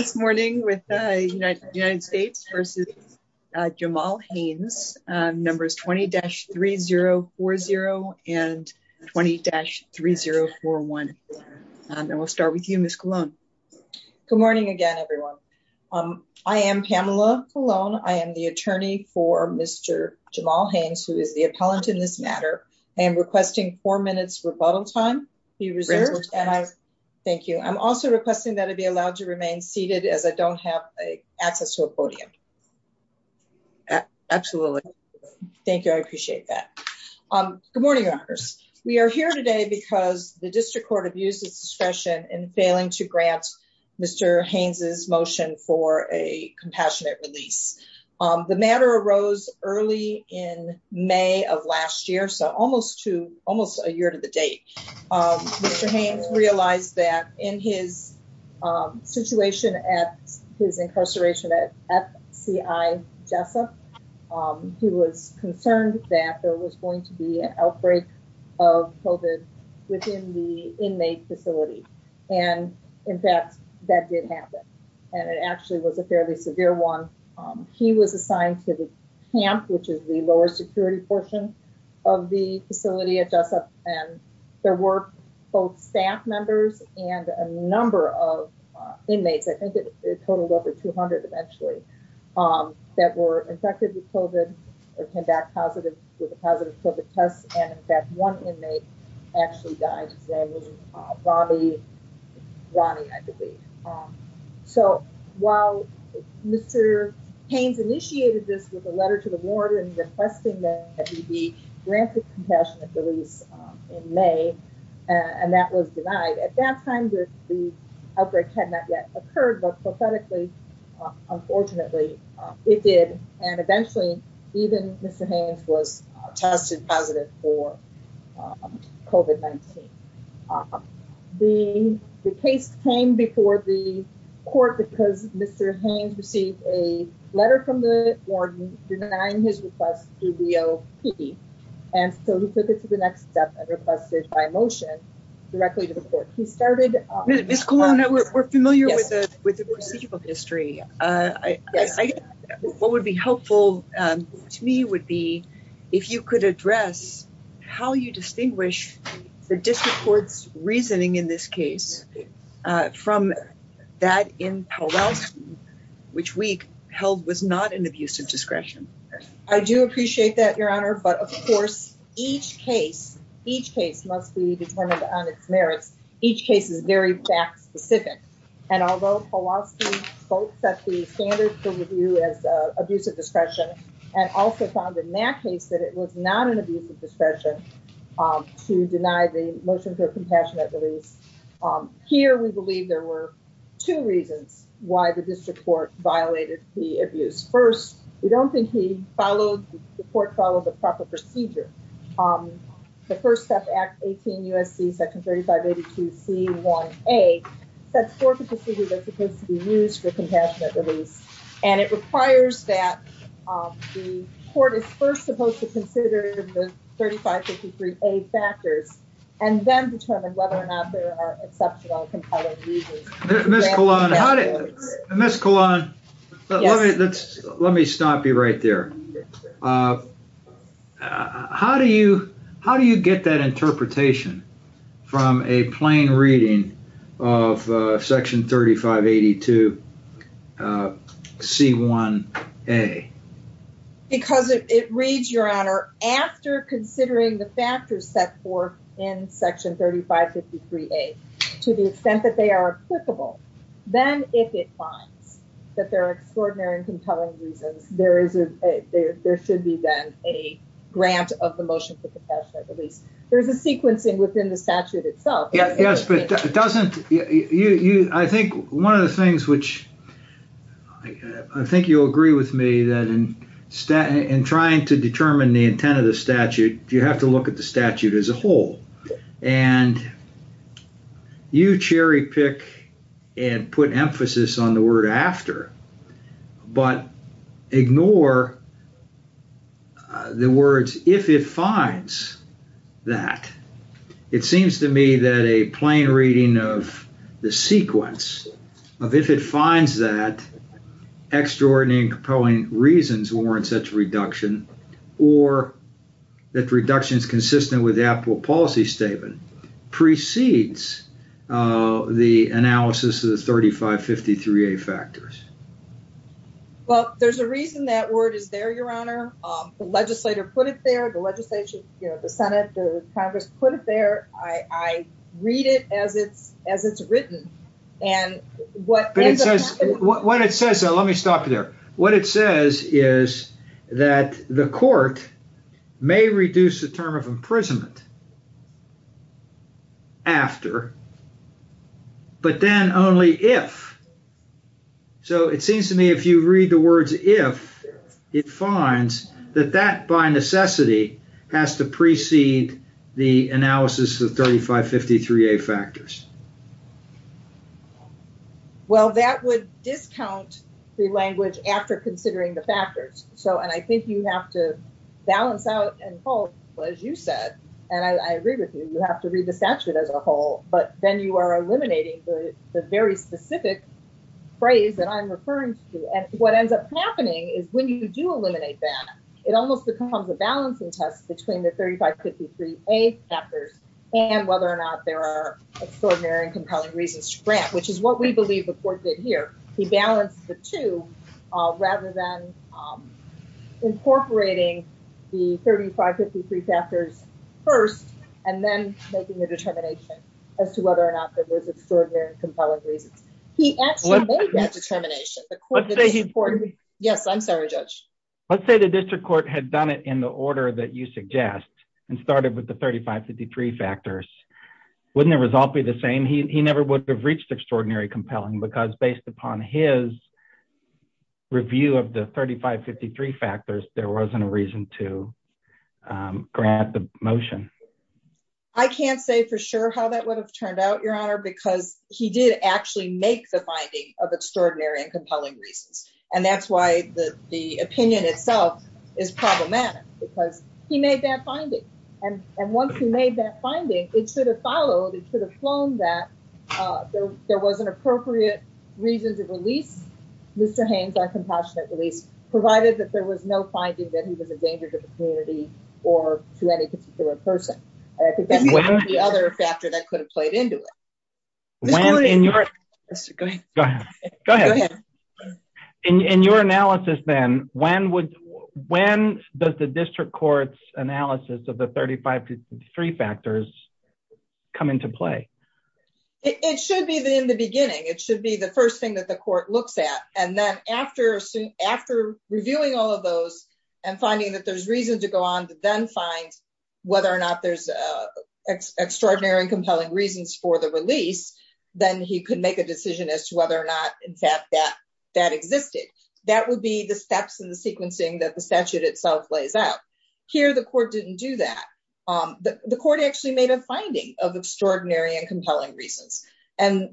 , 20-3040 and 20-3041, and we'll start with you, Ms. Cologne. Good morning again, everyone. I am Pamela Cologne. I am the attorney for Mr. Jamal Haynes, who is the appellant in this matter. I am requesting four minutes rebuttal time. Thank you. I'm also requesting that I be allowed to remain seated as I don't have access to a podium. Absolutely. Thank you. I appreciate that. Good morning, Your Honors. We are here today because the District Court abused its discretion in failing to grant Mr. Haynes' motion for a compassionate release. The matter arose early in May of last year, so almost a year to the date. Mr. Haynes realized that in his situation at his incarceration at FCI Jessup, he was concerned that there was going to be an outbreak of COVID within the inmate facility. And, in fact, that did happen, and it actually was a fairly severe one. He was assigned to the camp, which is the lower security portion of the facility at Jessup, and there were both staff members and a number of inmates, I think it totaled over 200 eventually, that were infected with COVID or came back with a positive COVID test, and, in fact, one inmate actually died. His name was Ronnie, I believe. So, while Mr. Haynes initiated this with a letter to the warden requesting that he be granted compassionate release in May, and that was denied, at that time the outbreak had not yet occurred, but, pathetically, unfortunately, it did. And, eventually, even Mr. Haynes was tested positive for COVID-19. The case came before the court because Mr. Haynes received a letter from the warden denying his request to DOP, and so he took it to the next step and requested by motion directly to the court. Ms. Colon, we're familiar with the procedural history. What would be helpful to me would be if you could address how you distinguish the district court's reasoning in this case from that in Powellston, which we held was not an abuse of discretion. I do appreciate that, Your Honor, but, of course, each case must be determined on its merits. Each case is very fact-specific, and although Powellston both set the standard for review as abuse of discretion and also found in that case that it was not an abuse of discretion to deny the motion for compassionate release, here we believe there were two reasons why the district court violated the abuse. First, we don't think the court followed the proper procedure. The First Step Act 18 U.S.C. Section 3582C1A sets forth the procedure that's supposed to be used for compassionate release, and it requires that the court is first supposed to consider the 3553A factors and then determine whether or not there are exceptional compelling uses. Ms. Colon, let me stop you right there. How do you get that interpretation from a plain reading of Section 3582C1A? Because it reads, Your Honor, after considering the factors set forth in Section 3553A to the extent that they are applicable, then if it finds that there are extraordinary and compelling reasons, there should be then a grant of the motion for compassionate release. There's a sequencing within the statute itself. Yes, but it doesn't—I think one of the things which—I think you'll agree with me that in trying to determine the intent of the statute, you have to look at the statute as a whole. And you cherry-pick and put emphasis on the word after, but ignore the words, if it finds that. It seems to me that a plain reading of the sequence of if it finds that extraordinary and compelling reasons warrant such reduction, or that reduction is consistent with the applicable policy statement, precedes the analysis of the 3553A factors. Well, there's a reason that word is there, Your Honor. The legislator put it there. The Senate, the Congress put it there. I read it as it's written. But it says—let me stop you there. Well, that would discount the language after considering the factors. And I think you have to balance out and—well, as you said, and I agree with you, you have to read the statute as a whole, but then you are eliminating the very specific phrase that I'm referring to. And what ends up happening is when you do eliminate that, it almost becomes a balancing test between the 3553A factors and whether or not there are extraordinary and compelling reasons to grant, which is what we believe the court did here. He balanced the two rather than incorporating the 3553 factors first and then making the determination as to whether or not there was extraordinary and compelling reasons. He actually made that determination. Let's say he— Yes, I'm sorry, Judge. Let's say the district court had done it in the order that you suggest and started with the 3553 factors. Wouldn't the result be the same? He never would have reached extraordinary compelling because based upon his review of the 3553 factors, there wasn't a reason to grant the motion. I can't say for sure how that would have turned out, Your Honor, because he did actually make the finding of extraordinary and compelling reasons. And that's why the opinion itself is problematic because he made that finding. And once he made that finding, it should have followed, it should have flown that there was an appropriate reason to release Mr. Haynes on compassionate release, provided that there was no finding that he was a danger to the community or to any particular person. I think that's the other factor that could have played into it. Go ahead. Go ahead. In your analysis, then, when does the district court's analysis of the 3553 factors come into play? It should be in the beginning. It should be the first thing that the court looks at. And then after reviewing all of those and finding that there's reason to go on to then find whether or not there's extraordinary and compelling reasons for the release, then he could make a decision as to whether or not, in fact, that existed. That would be the steps in the sequencing that the statute itself lays out. Here, the court didn't do that. The court actually made a finding of extraordinary and compelling reasons. And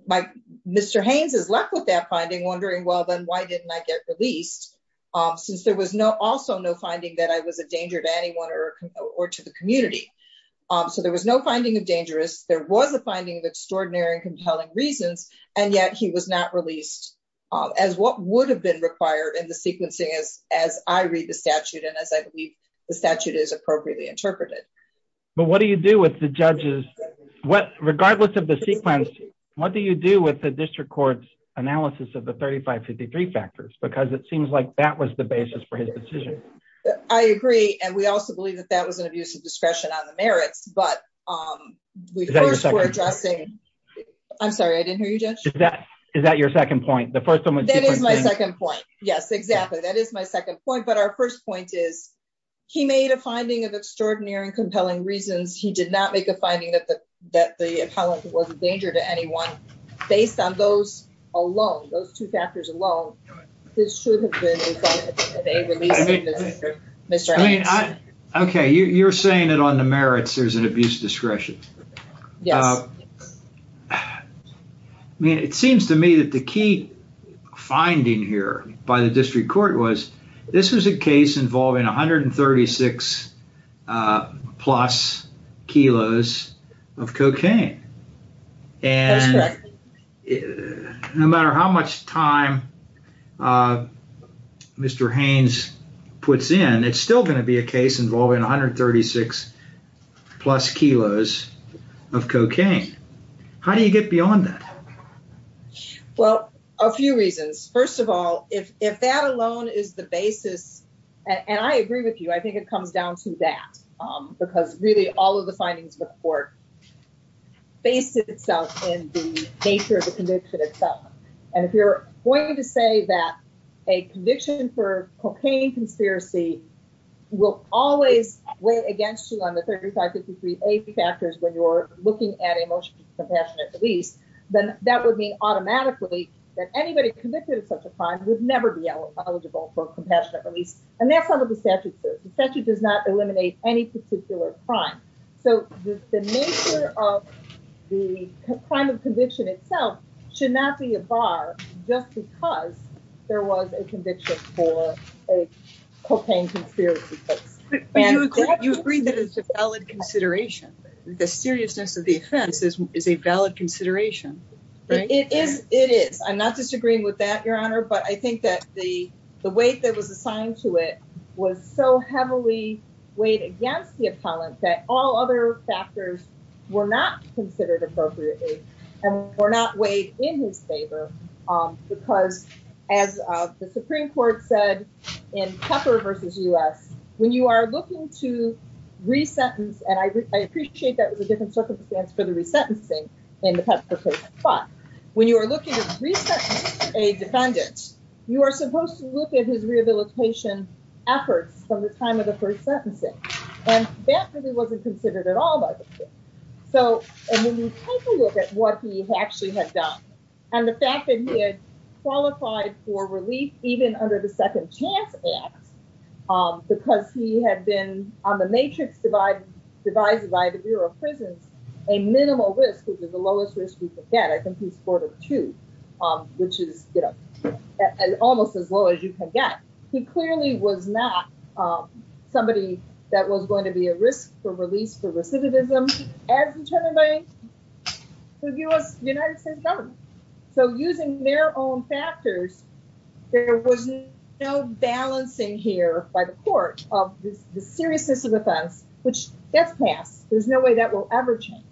Mr. Haynes is left with that finding, wondering, well, then why didn't I get released, since there was also no finding that I was a danger to anyone or to the community. So there was no finding of dangerous. There was a finding of extraordinary and compelling reasons. And yet he was not released as what would have been required in the sequencing as I read the statute and as I believe the statute is appropriately interpreted. But what do you do with the judges? Regardless of the sequence, what do you do with the district court's analysis of the 3553 factors? Because it seems like that was the basis for his decision. I agree. And we also believe that that was an abuse of discretion on the merits. But we first were addressing... I'm sorry, I didn't hear you, Judge. Is that your second point? That is my second point. Yes, exactly. That is my second point. But our first point is he made a finding of extraordinary and compelling reasons. He did not make a finding that the appellant was a danger to anyone. Based on those alone, those two factors alone, this should have been a release for Mr. Haynes. Okay, you're saying that on the merits there's an abuse of discretion. Yes. I mean, it seems to me that the key finding here by the district court was this was a case involving 136 plus kilos of cocaine. That's correct. No matter how much time Mr. Haynes puts in, it's still going to be a case involving 136 plus kilos of cocaine. How do you get beyond that? Well, a few reasons. First of all, if that alone is the basis... And I agree with you. I think it comes down to that. Because really all of the findings of the court face itself in the nature of the conviction itself. And if you're going to say that a conviction for cocaine conspiracy will always weigh against you on the 35, 53, 80 factors when you're looking at a motion for compassionate release, then that would mean automatically that anybody convicted of such a crime would never be eligible for compassionate release. And that's what the statute says. The statute does not eliminate any particular crime. So the nature of the crime of conviction itself should not be a bar just because there was a conviction for a cocaine conspiracy case. You agree that it's a valid consideration. The seriousness of the offense is a valid consideration. It is. I'm not disagreeing with that, Your Honor. But I think that the weight that was assigned to it was so heavily weighed against the appellant that all other factors were not considered appropriately and were not weighed in his favor. Because, as the Supreme Court said in Pepper versus U.S., when you are looking to re-sentence, and I appreciate that was a different circumstance for the resentencing in the Pepper case. But when you are looking to re-sentence a defendant, you are supposed to look at his rehabilitation efforts from the time of the first sentencing. And that really wasn't considered at all by the court. So when you take a look at what he actually had done. And the fact that he had qualified for relief, even under the Second Chance Act, because he had been on the matrix divided by the Bureau of Prisons, a minimal risk, which is the lowest risk you can get. I think he scored a two, which is, you know, almost as low as you can get. He clearly was not somebody that was going to be a risk for release for recidivism as the Attorney General of the United States government. So using their own factors, there was no balancing here by the court of the seriousness of offense, which gets passed. There's no way that will ever change,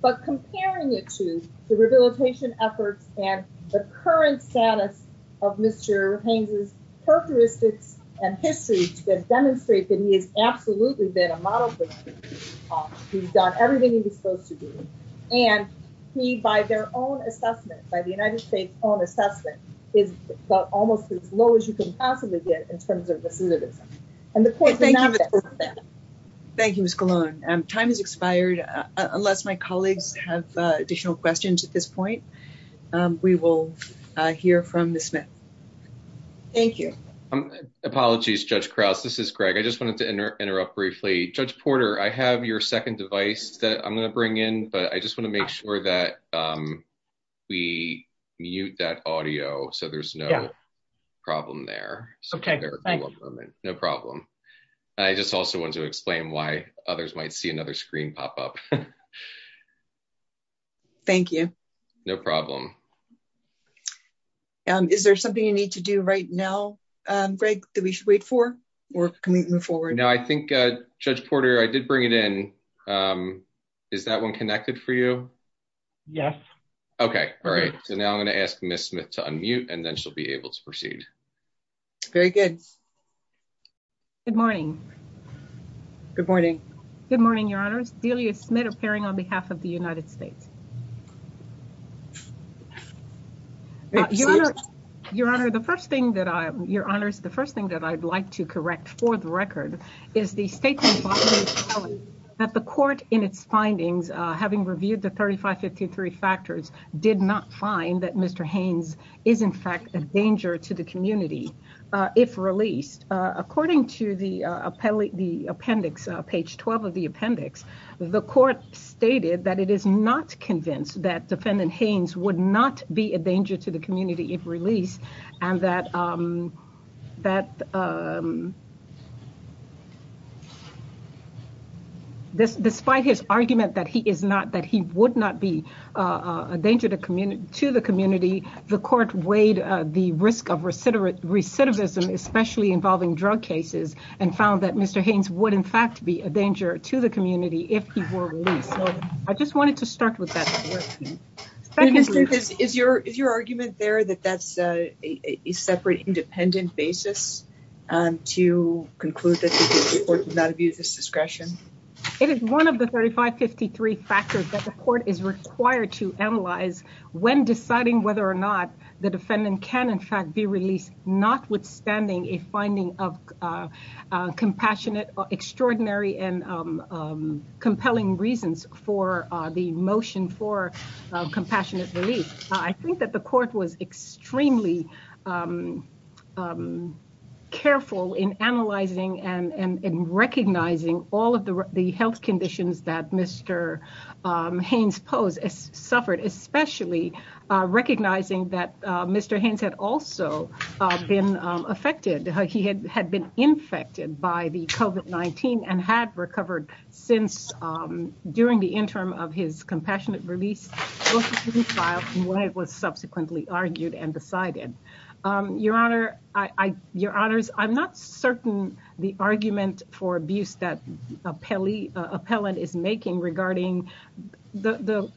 but comparing it to the rehabilitation efforts and the current status of Mr. Haynes' characteristics and history to demonstrate that he has absolutely been a model person. He's done everything he was supposed to do. And he, by their own assessment, by the United States own assessment, is almost as low as you can possibly get in terms of recidivism. Thank you, Ms. Colon. Time has expired. Unless my colleagues have additional questions at this point, we will hear from Ms. Smith. Thank you. Apologies, Judge Krause. This is Greg. I just wanted to interrupt briefly. Judge Porter, I have your second device that I'm going to bring in, but I just want to make sure that we mute that audio so there's no problem there. No problem. I just also want to explain why others might see another screen pop up. Thank you. No problem. Is there something you need to do right now, Greg, that we should wait for or can we move forward? No, I think, Judge Porter, I did bring it in. Is that one connected for you? Yes. Okay, all right. So now I'm going to ask Ms. Smith to unmute and then she'll be able to proceed. Very good. Good morning. Good morning. Good morning, Your Honors. Delia Smith appearing on behalf of the United States. Your Honor, the first thing that I, Your Honors, the first thing that I'd like to correct for the record is the statement that the court in its findings, having reviewed the 3553 factors, did not find that Mr. Haynes is in fact a danger to the community. If released, according to the appellate the appendix page 12 of the appendix, the court stated that it is not convinced that defendant Haynes would not be a danger to the community if released, and that, that despite his argument that he is not, that he would not be a danger to the community, the court weighed the risk of recidivism, especially involving drug cases, and found that Mr. Haynes would in fact be a danger to the community if he were released. I just wanted to start with that. Is your, is your argument there that that's a separate independent basis to conclude that the court would not have used this discretion? It is one of the 3553 factors that the court is required to analyze when deciding whether or not the defendant can in fact be released, notwithstanding a finding of compassionate or extraordinary and compelling reasons for the motion for compassionate I think that the court was extremely careful in analyzing and recognizing all of the health conditions that Mr. recognizing that Mr. Haynes had also been affected, he had had been infected by the covert 19 and had recovered since during the interim of his compassionate release. When it was subsequently argued and decided, Your Honor, I, Your Honors, I'm not certain the argument for abuse that appellee appellant is making regarding the,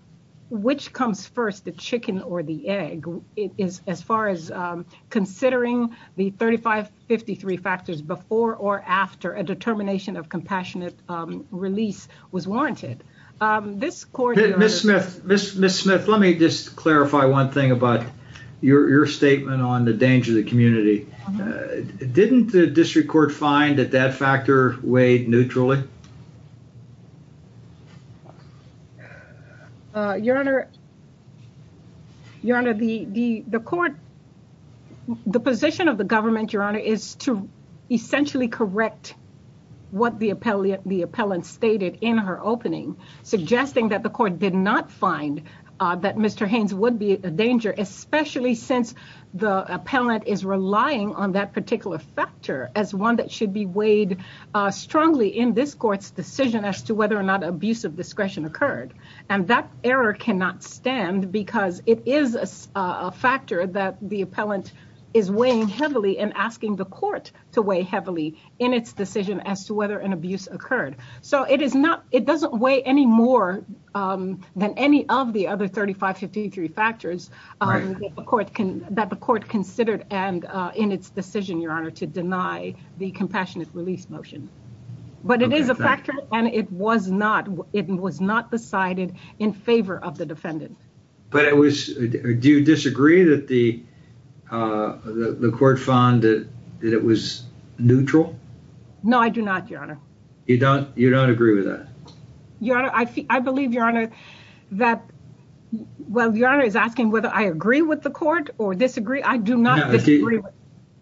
which comes first the chicken or the egg is, as far as considering the 3553 factors before or after a determination of compassionate release was warranted. Miss Smith, Miss Miss Smith, let me just clarify one thing about your statement on the danger of the community. Didn't the district court find that that factor weighed neutrally. Your Honor. Your Honor, the, the, the court. The position of the government, Your Honor, is to essentially correct what the appellate the appellant stated in her opening, suggesting that the court did not find that Mr Haynes would be a danger, especially since the appellant is relying on that particular factor as one that should be weighed strongly in this court's decision as to whether or not abusive discretion occurred, and that error cannot stand because it is a factor that the appellant is weighing heavily and asking the court to weigh heavily in its decision as to whether an abuse occurred. So it is not, it doesn't weigh any more than any of the other 3553 factors. The court can that the court considered and in its decision, Your Honor to deny the compassionate release motion, but it is a factor, and it was not, it was not decided in favor of the defendant. But it was. Do you disagree that the, the court found that it was neutral. No, I do not, Your Honor. You don't, you don't agree with that. I believe your honor that. Well, your honor is asking whether I agree with the court or disagree I do not agree.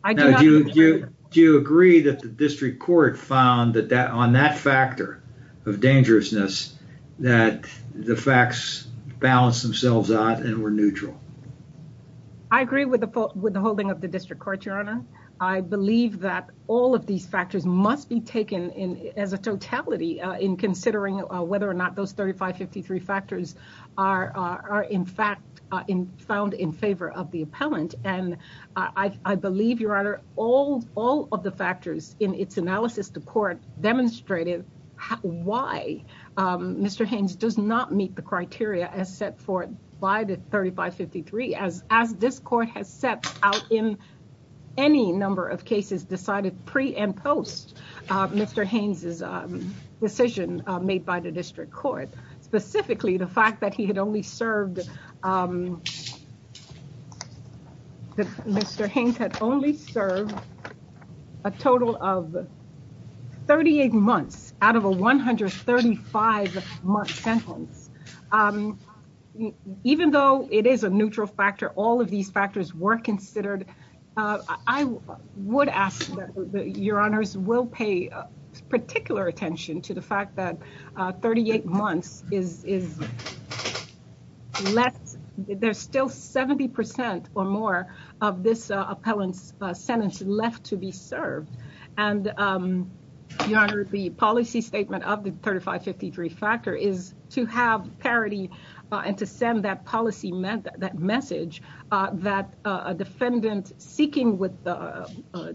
I do you do you agree that the district court found that that on that factor of dangerousness, that the facts balance themselves out and we're neutral. I agree with the with the holding of the district court your honor. I believe that all of these factors must be taken in as a totality in considering whether or not those 3553 factors are in fact in found in favor of the appellant, and I believe your honor, all, all of the factors in its analysis the court demonstrated why Mr Haynes does not meet the criteria as set forth by the 3553 as, as this court has set out in any number of cases decided pre and post. Mr Haynes is decision made by the district court, specifically the fact that he had only served Mr Haynes had only served a total of 38 months out of a 135 month sentence. Even though it is a neutral factor all of these factors were considered. I would ask your honors will pay particular attention to the fact that 38 months is less, there's still 70% or more of this appellants sentence left to be served. And the policy statement of the 3553 factor is to have parity and to send that policy meant that message that a defendant, seeking with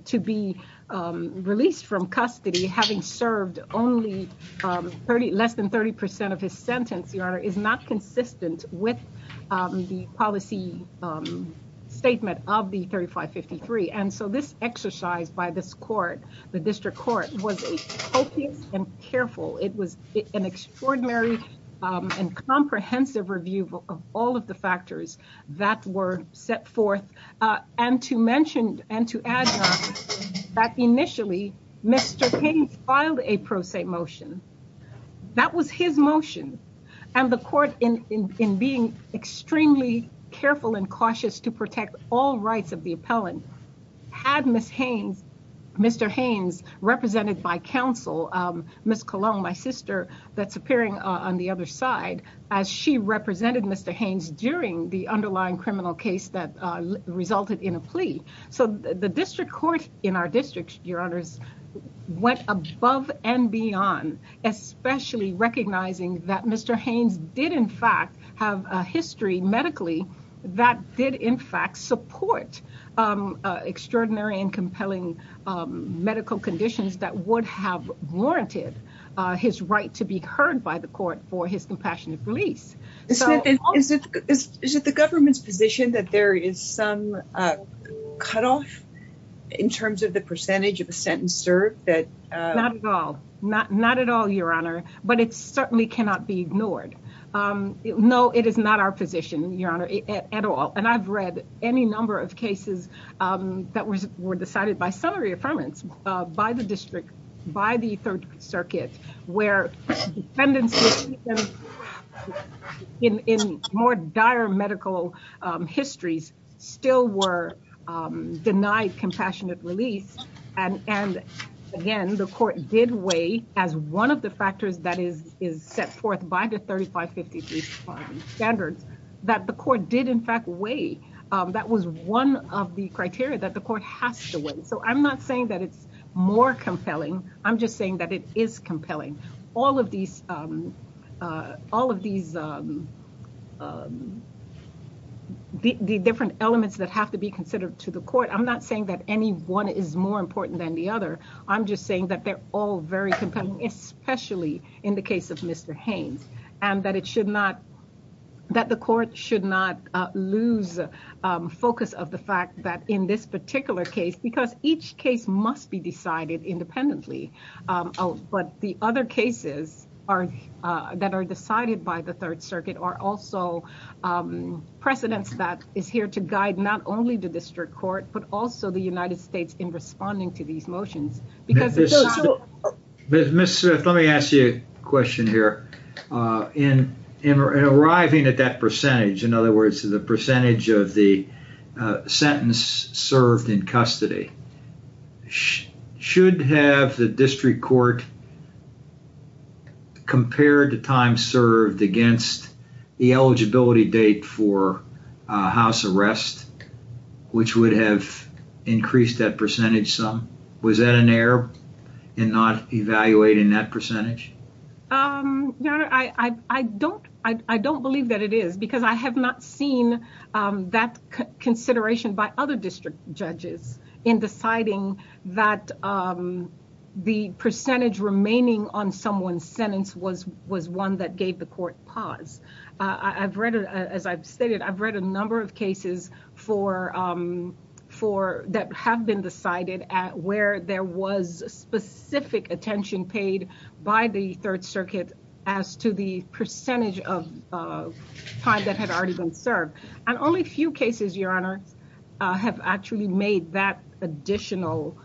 to be released from custody having served only 30 less than 30% of his sentence your honor is not consistent with the policy statement of the 3553 and so this exercise by this court, the district court was careful it was an extraordinary and comprehensive review of all of the factors that were set forth. And to mentioned, and to add that initially, Mr Haynes filed a pro se motion. That was his motion, and the court in in being extremely careful and cautious to protect all rights of the appellant had Miss Haynes. Mr Haynes represented by counsel, Miss Cologne my sister that's appearing on the other side, as she represented Mr Haynes during the underlying criminal case that resulted in a plea. So, the district court in our district, your honors went above and beyond, especially recognizing that Mr Haynes did in fact have a history medically that did in fact support extraordinary and compelling medical conditions that would have warranted his right to be heard by the court for his compassionate release. Is it the government's position that there is some cut off in terms of the percentage of the sentence served that not at all, not not at all your honor, but it's certainly cannot be ignored. No, it is not our position, your honor, at all, and I've read any number of cases that was were decided by summary affirmance by the district by the Third Circuit, where in more dire medical histories, still were denied compassionate release. And, and, again, the court did way as one of the factors that is is set forth by the 3553 standards that the court did in fact way. That was one of the criteria that the court has to win so I'm not saying that it's more compelling. I'm just saying that it is compelling. All of these, all of these The different elements that have to be considered to the court. I'm not saying that any one is more important than the other. I'm just saying that they're all very compelling, especially in the case of Mr Haynes, and that it should not that the court should not lose focus of the fact that in this particular case because each case must be decided independently. But the other cases are that are decided by the Third Circuit are also precedents that is here to guide not only the district court, but also the United States in responding to these motions because Miss Smith, let me ask you a question here in in arriving at that percentage. In other words, the percentage of the sentence served in custody. Should have the district court. Compared to time served against the eligibility date for house arrest, which would have increased that percentage. Some was that an error and not evaluating that percentage. I don't, I don't believe that it is because I have not seen that consideration by other district judges in deciding that The percentage remaining on someone's sentence was was one that gave the court pause. I've read it. As I've stated, I've read a number of cases for For that have been decided at where there was specific attention paid by the Third Circuit as to the percentage of Time that had already been served and only few cases, Your Honor have actually made that additional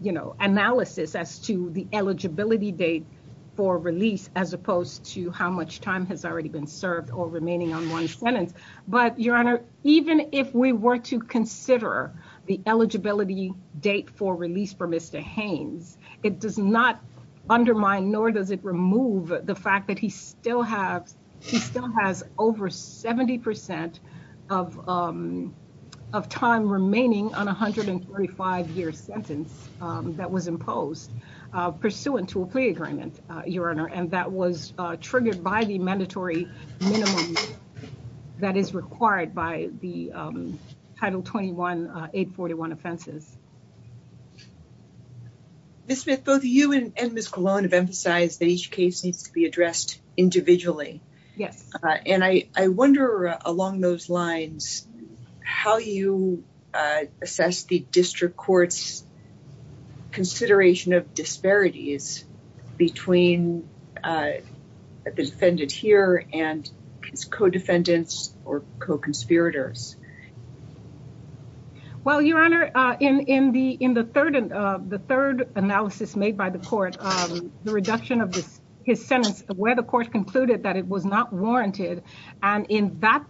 You know, analysis as to the eligibility date for release, as opposed to how much time has already been served or remaining on one sentence. But Your Honor, even if we were to consider the eligibility date for release for Mr. Haynes, it does not undermine nor does it remove the fact that he still have still has over 70% of Of time remaining on 135 year sentence that was imposed pursuant to a plea agreement, Your Honor, and that was triggered by the mandatory That is required by the title 21 841 offenses. Ms. Smith, both you and Ms. Colon have emphasized that each case needs to be addressed individually. Yes. And I wonder, along those lines, how you assess the district court's Consideration of disparities between The defendant here and his co-defendants or co-conspirators. Well, Your Honor, in the third analysis made by the court, the reduction of his sentence where the court concluded that it was not warranted and in that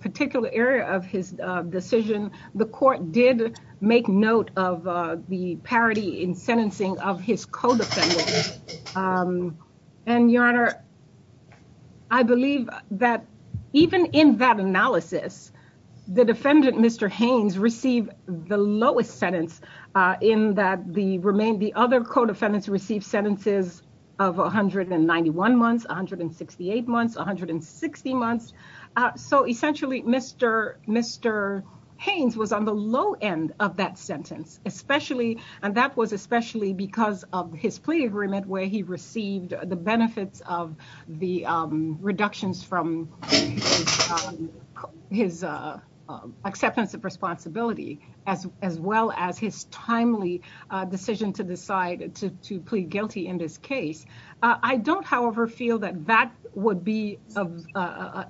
particular area of his decision, the court did make note of the parity in sentencing of his co-defendants. I believe that even in that analysis, the defendant, Mr. Haynes received the lowest sentence in that the remain the other co-defendants received sentences of 191 months 168 months 160 months So essentially, Mr. Mr. Haynes was on the low end of that sentence, especially and that was especially because of his plea agreement where he received the benefits of the reductions from His acceptance of responsibility as as well as his timely decision to decide to plead guilty in this case. I don't, however, feel that that would be of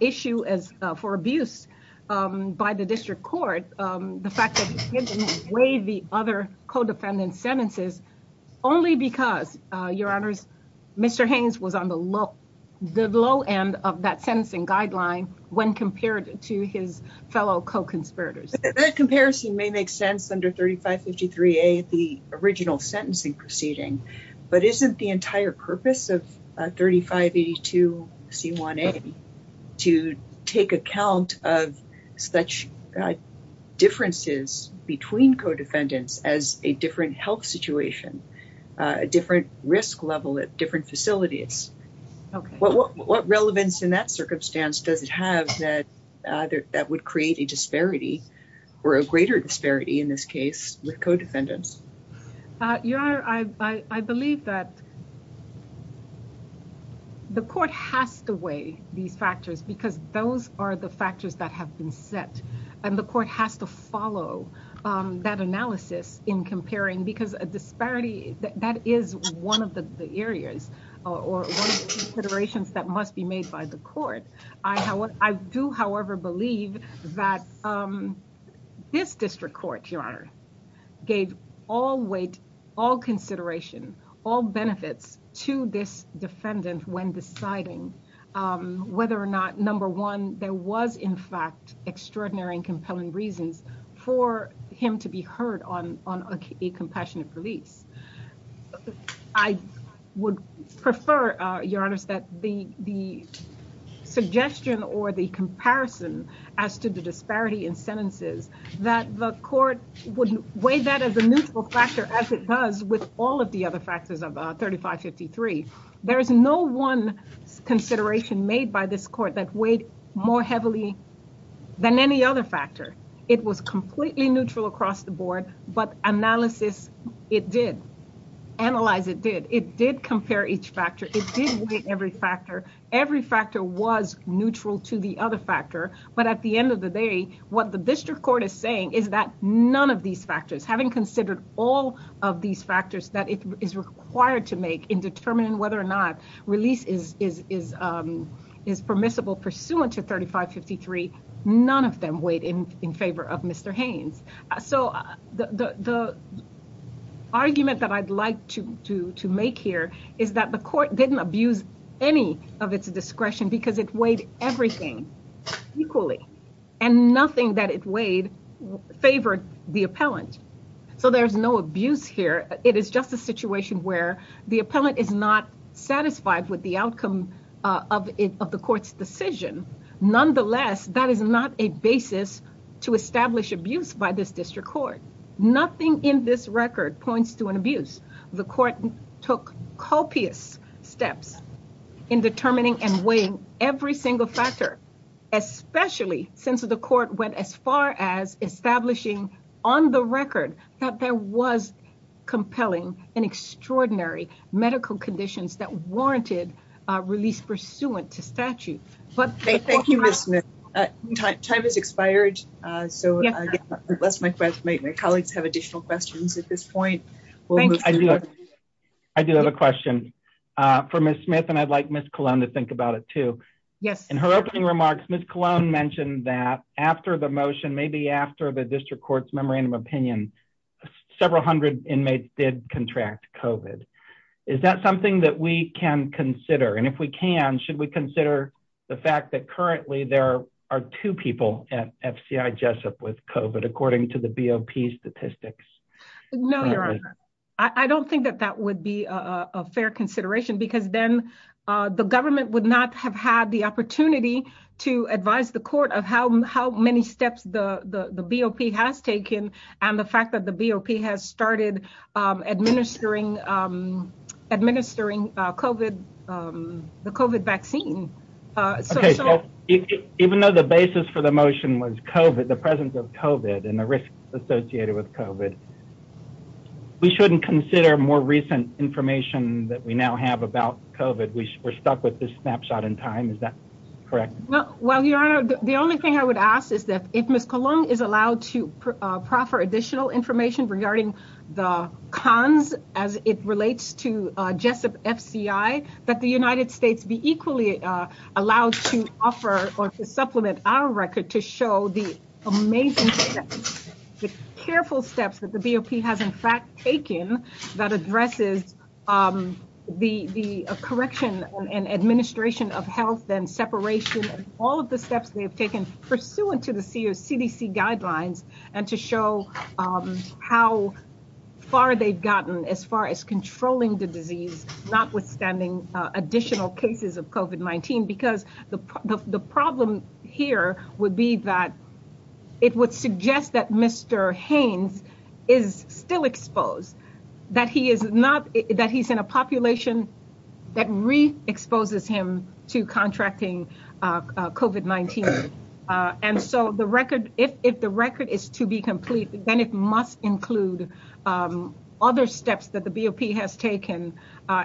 issue as for abuse by the district court. The fact that he didn't waive the other co-defendants sentences only because, Your Honors, Mr. Haynes was on the low, the low end of that sentencing guideline when compared to his fellow co-conspirators. That comparison may make sense under 3553A, the original sentencing proceeding, but isn't the entire purpose of 3582C1A to take account of such differences between co-defendants as a different health situation, a different risk level at different facilities. What relevance in that circumstance does it have that that would create a disparity or a greater disparity in this case with co-defendants? Your Honor, I believe that the court has to weigh these factors because those are the factors that have been set and the court has to follow that analysis in comparing because a disparity that is one of the areas or considerations that must be made by the court. I do, however, believe that this district court, Your Honor, gave all weight, all consideration, all benefits to this defendant when deciding whether or not, number one, there was in fact extraordinary and compelling reasons for him to be heard on a compassionate release. I would prefer, Your Honor, that the suggestion or the comparison as to the disparity in sentences that the court would weigh that as a neutral factor as it does with all of the other factors of 3553. There is no one consideration made by this court that weighed more heavily than any other factor. It was completely neutral across the board, but analysis, it did. Analyze it did. It did compare each factor. It did weigh every factor. Every factor was neutral to the other factor, but at the end of the day, what the district court is saying is that none of these factors, having considered all of these factors that is required to make in determining whether or not release is permissible pursuant to 3553, none of them weighed in favor of Mr. Haynes. So the argument that I'd like to make here is that the court didn't abuse any of its discretion because it weighed everything equally and nothing that it weighed favored the appellant. So there's no abuse here. It is just a situation where the appellant is not satisfied with the outcome of the court's decision. Nonetheless, that is not a basis to establish abuse by this district court. Nothing in this record points to an abuse. The court took copious steps in determining and weighing every single factor, especially since the court went as far as establishing on the record that there was compelling and extraordinary medical conditions that warranted release pursuant to statute. Thank you, Ms. Smith. Time has expired, so unless my colleagues have additional questions at this point. I do have a question for Ms. Smith and I'd like Ms. Colon to think about it too. In her opening remarks, Ms. Colon mentioned that after the motion, maybe after the district court's memorandum of opinion, several hundred inmates did contract COVID. Is that something that we can consider? And if we can, should we consider the fact that currently there are two people at FCI Jessup with COVID according to the BOP statistics? No, Your Honor. I don't think that that would be a fair consideration because then the government would not have had the opportunity to advise the court of how many steps the BOP has taken and the fact that the BOP has started administering COVID, the COVID vaccine. Even though the basis for the motion was COVID, the presence of COVID and the risks associated with COVID, we shouldn't consider more recent information that we now have about COVID. We're stuck with this snapshot in time. Is that correct? Well, Your Honor, the only thing I would ask is that if Ms. Colon is allowed to proffer additional information regarding the cons as it relates to Jessup FCI, that the United States be equally allowed to offer or to supplement our record to show the amazing, careful steps that the BOP has in fact taken that addresses the correction and administration of health and separation of all of the steps they have taken pursuant to the CDC guidelines and to show how far they've gotten as far as controlling the disease, notwithstanding additional cases of COVID-19 because the problem here would be that it would suggest that Mr. Haynes is still exposed, that he is not, that he's in a population that re-exposes him to contracting COVID-19. And so the record, if the record is to be complete, then it must include other steps that the BOP has taken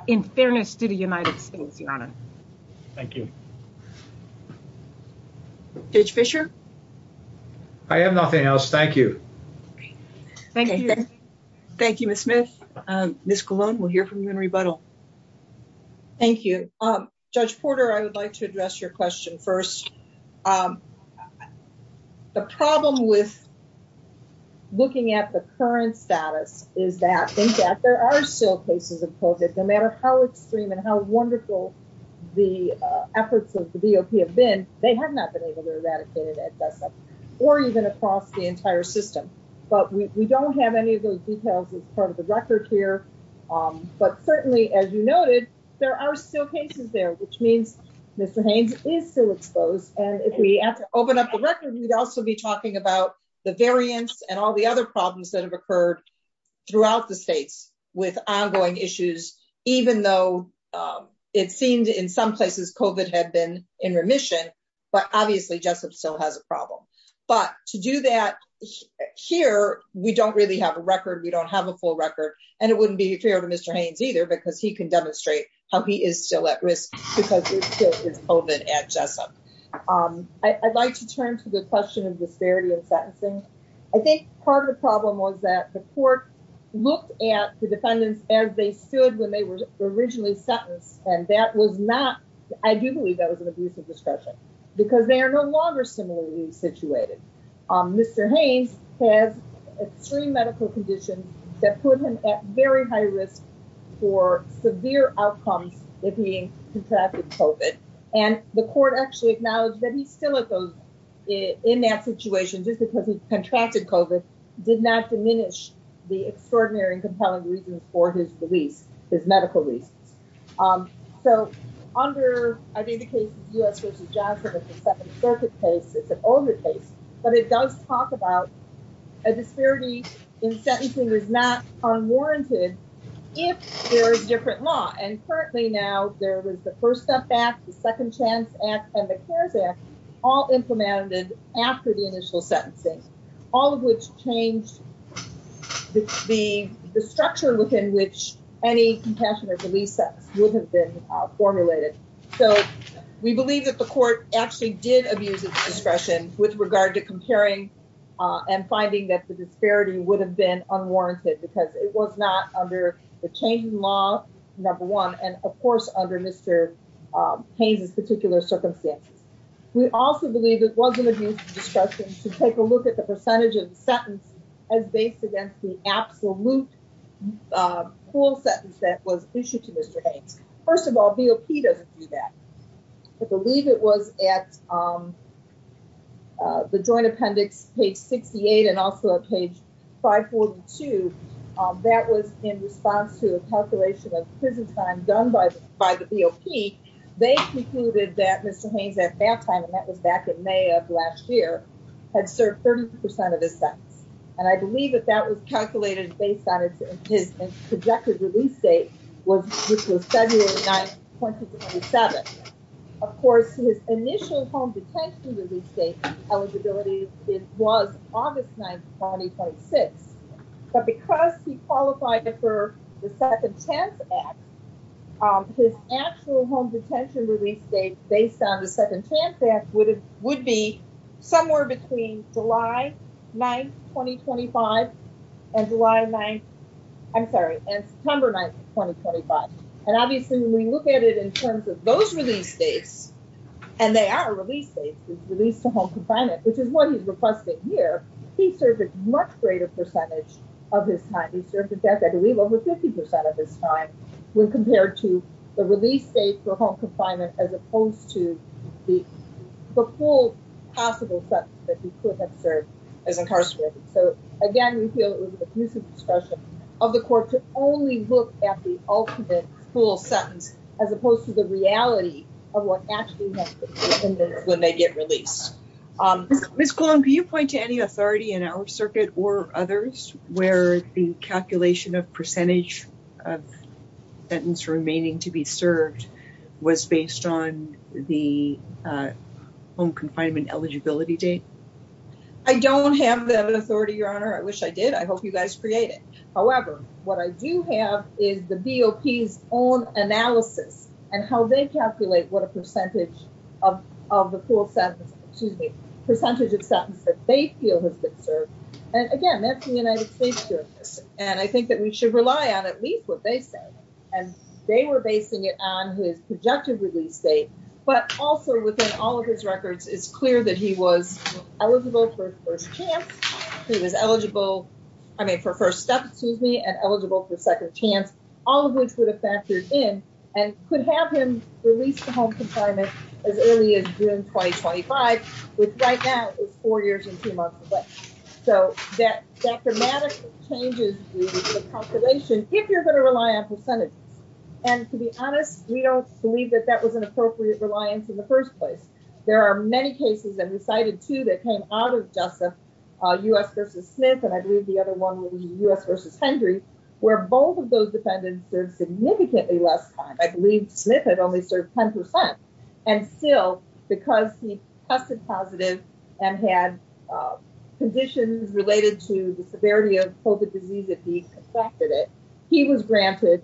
in fairness to the United States, Your Honor. Thank you. Judge Fischer? I have nothing else. Thank you. Thank you. Thank you, Ms. Smith. Ms. Colon, we'll hear from you in rebuttal. Thank you. Judge Porter, I would like to address your question first. The problem with looking at the current status is that, in fact, there are still cases of COVID, no matter how extreme and how wonderful the efforts of the BOP have been, they have not been able to eradicate it at Jessup or even across the entire system. But we don't have any of those details as part of the record here. But certainly, as you noted, there are still cases there, which means Mr. Haynes is still exposed. And if we have to open up the record, we'd also be talking about the variants and all the other problems that have occurred throughout the states with ongoing issues, even though it seemed in some places COVID had been in remission. But obviously, Jessup still has a problem. But to do that here, we don't really have a record. We don't have a full record. And it wouldn't be fair to Mr. Haynes either, because he can demonstrate how he is still at risk because it's COVID at Jessup. I'd like to turn to the question of disparity in sentencing. I think part of the problem was that the court looked at the defendants as they stood when they were originally sentenced. And that was not, I do believe that was an abusive discretion, because they are no longer similarly situated. Mr. Haynes has extreme medical conditions that put him at very high risk for severe outcomes if he contracted COVID. And the court actually acknowledged that he's still in that situation just because he contracted COVID did not diminish the extraordinary and compelling reasons for his release, his medical release. So under, I think the case is US v. Johnson, it's a Second Circuit case, it's an older case. But it does talk about a disparity in sentencing is not unwarranted if there is different law. And currently now, there was the First Step Act, the Second Chance Act, and the CARES Act, all implemented after the initial sentencing, all of which changed the structure within which any compassion or belief system is established. So we believe that the court actually did abuse of discretion with regard to comparing and finding that the disparity would have been unwarranted because it was not under the changing law, number one, and of course, under Mr. Haynes' particular circumstances. We also believe it wasn't abuse of discretion to take a look at the percentage of the sentence as based against the absolute full sentence that was issued to Mr. Haynes. First of all, BOP doesn't do that. I believe it was at the Joint Appendix, page 68, and also at page 542. That was in response to a calculation of prison time done by the BOP. They concluded that Mr. Haynes, at that time, and that was back in May of last year, had served 30% of his sentence. And I believe that that was calculated based on his projected release date, which was February 9, 2027. Of course, his initial home detention release date eligibility was August 9, 2026. But because he qualified for the Second Chance Act, his actual home detention release date based on the Second Chance Act would be somewhere between July 9, 2025 and September 9, 2025. And obviously, when we look at it in terms of those release dates, and they are release dates, his release to home confinement, which is what he's requesting here, he served a much greater percentage of his time. He served a death, I believe, over 50% of his time when compared to the release date for home confinement as opposed to the full possible sentence that he could have served as incarcerated. So again, we feel it was an abusive discussion of the court to only look at the ultimate full sentence as opposed to the reality of what actually happens when they get released. Ms. Colon, can you point to any authority in our circuit or others where the calculation of percentage of sentence remaining to be served was based on the home confinement eligibility date? I don't have that authority, Your Honor. I wish I did. I hope you guys create it. However, what I do have is the BOP's own analysis and how they calculate what a percentage of the full sentence, excuse me, percentage of sentence that they feel has been served. And again, that's the United States. And I think that we should rely on at least what they say. And they were basing it on his projective release date. But also within all of his records, it's clear that he was eligible for first chance. He was eligible, I mean, for first step, excuse me, and eligible for second chance, all of which would have factored in and could have him release the home confinement as early as June 2025, which right now is four years and two months away. So that dramatically changes the calculation if you're going to rely on percentages. And to be honest, we don't believe that that was an appropriate reliance in the first place. There are many cases that we cited to that came out of Joseph, U.S. versus Smith, and I believe the other one was U.S. versus Hendry, where both of those defendants served significantly less time. I believe Smith had only served 10%. And still, because he tested positive and had conditions related to the severity of COVID disease that he contracted it, he was granted,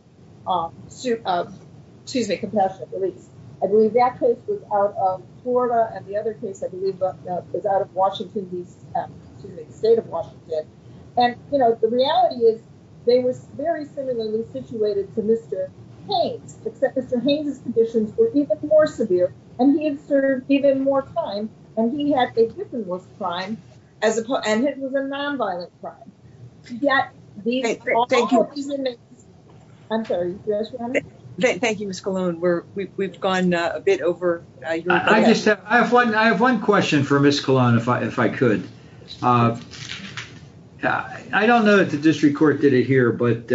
excuse me, compassionate release. I believe that case was out of Florida and the other case, I believe, was out of Washington, D.C., excuse me, the state of Washington. And, you know, the reality is they were very similarly situated to Mr. Haines, except Mr. Haines's conditions were even more severe and he had served even more time and he had a different worth of time and it was a nonviolent crime. Thank you. Thank you, Ms. Colon. We've gone a bit over. I have one question for Ms. Colon, if I could. I don't know that the district court did it here, but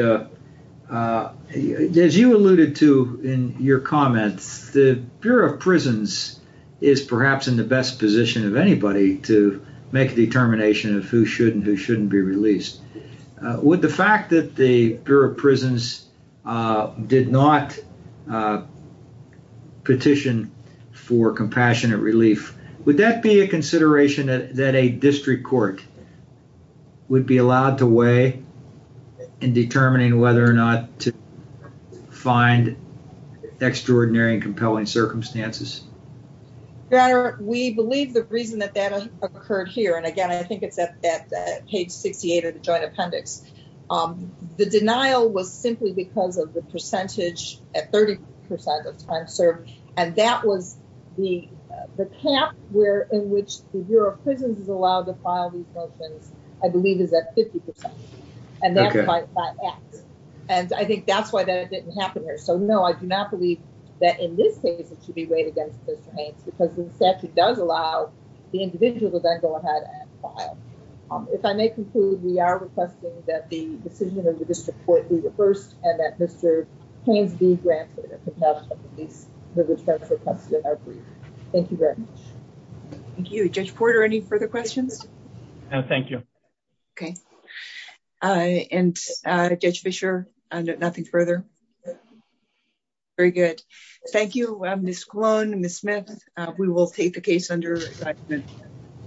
as you alluded to in your comments, the Bureau of Prisons is perhaps in the best position of anybody to make a determination of who should and who shouldn't be released. With the fact that the Bureau of Prisons did not petition for compassionate relief, would that be a consideration that a district court would be allowed to weigh in determining whether or not to find extraordinary and compelling circumstances? Your Honor, we believe the reason that that occurred here. And again, I think it's at page 68 of the joint appendix. The denial was simply because of the percentage at 30 percent of time served. And that was the cap in which the Bureau of Prisons is allowed to file these motions, I believe is at 50 percent. And I think that's why that didn't happen here. So, no, I do not believe that in this case it should be weighed against Mr. Haynes because the statute does allow the individual to then go ahead and file. If I may conclude, we are requesting that the decision of the district court be reversed and that Mr. Haynes be granted a compassionate release. Thank you very much. Thank you. Judge Porter, any further questions? No, thank you. And Judge Fischer, nothing further? No. Very good. Thank you, Ms. Colon and Ms. Smith. We will take the case under review.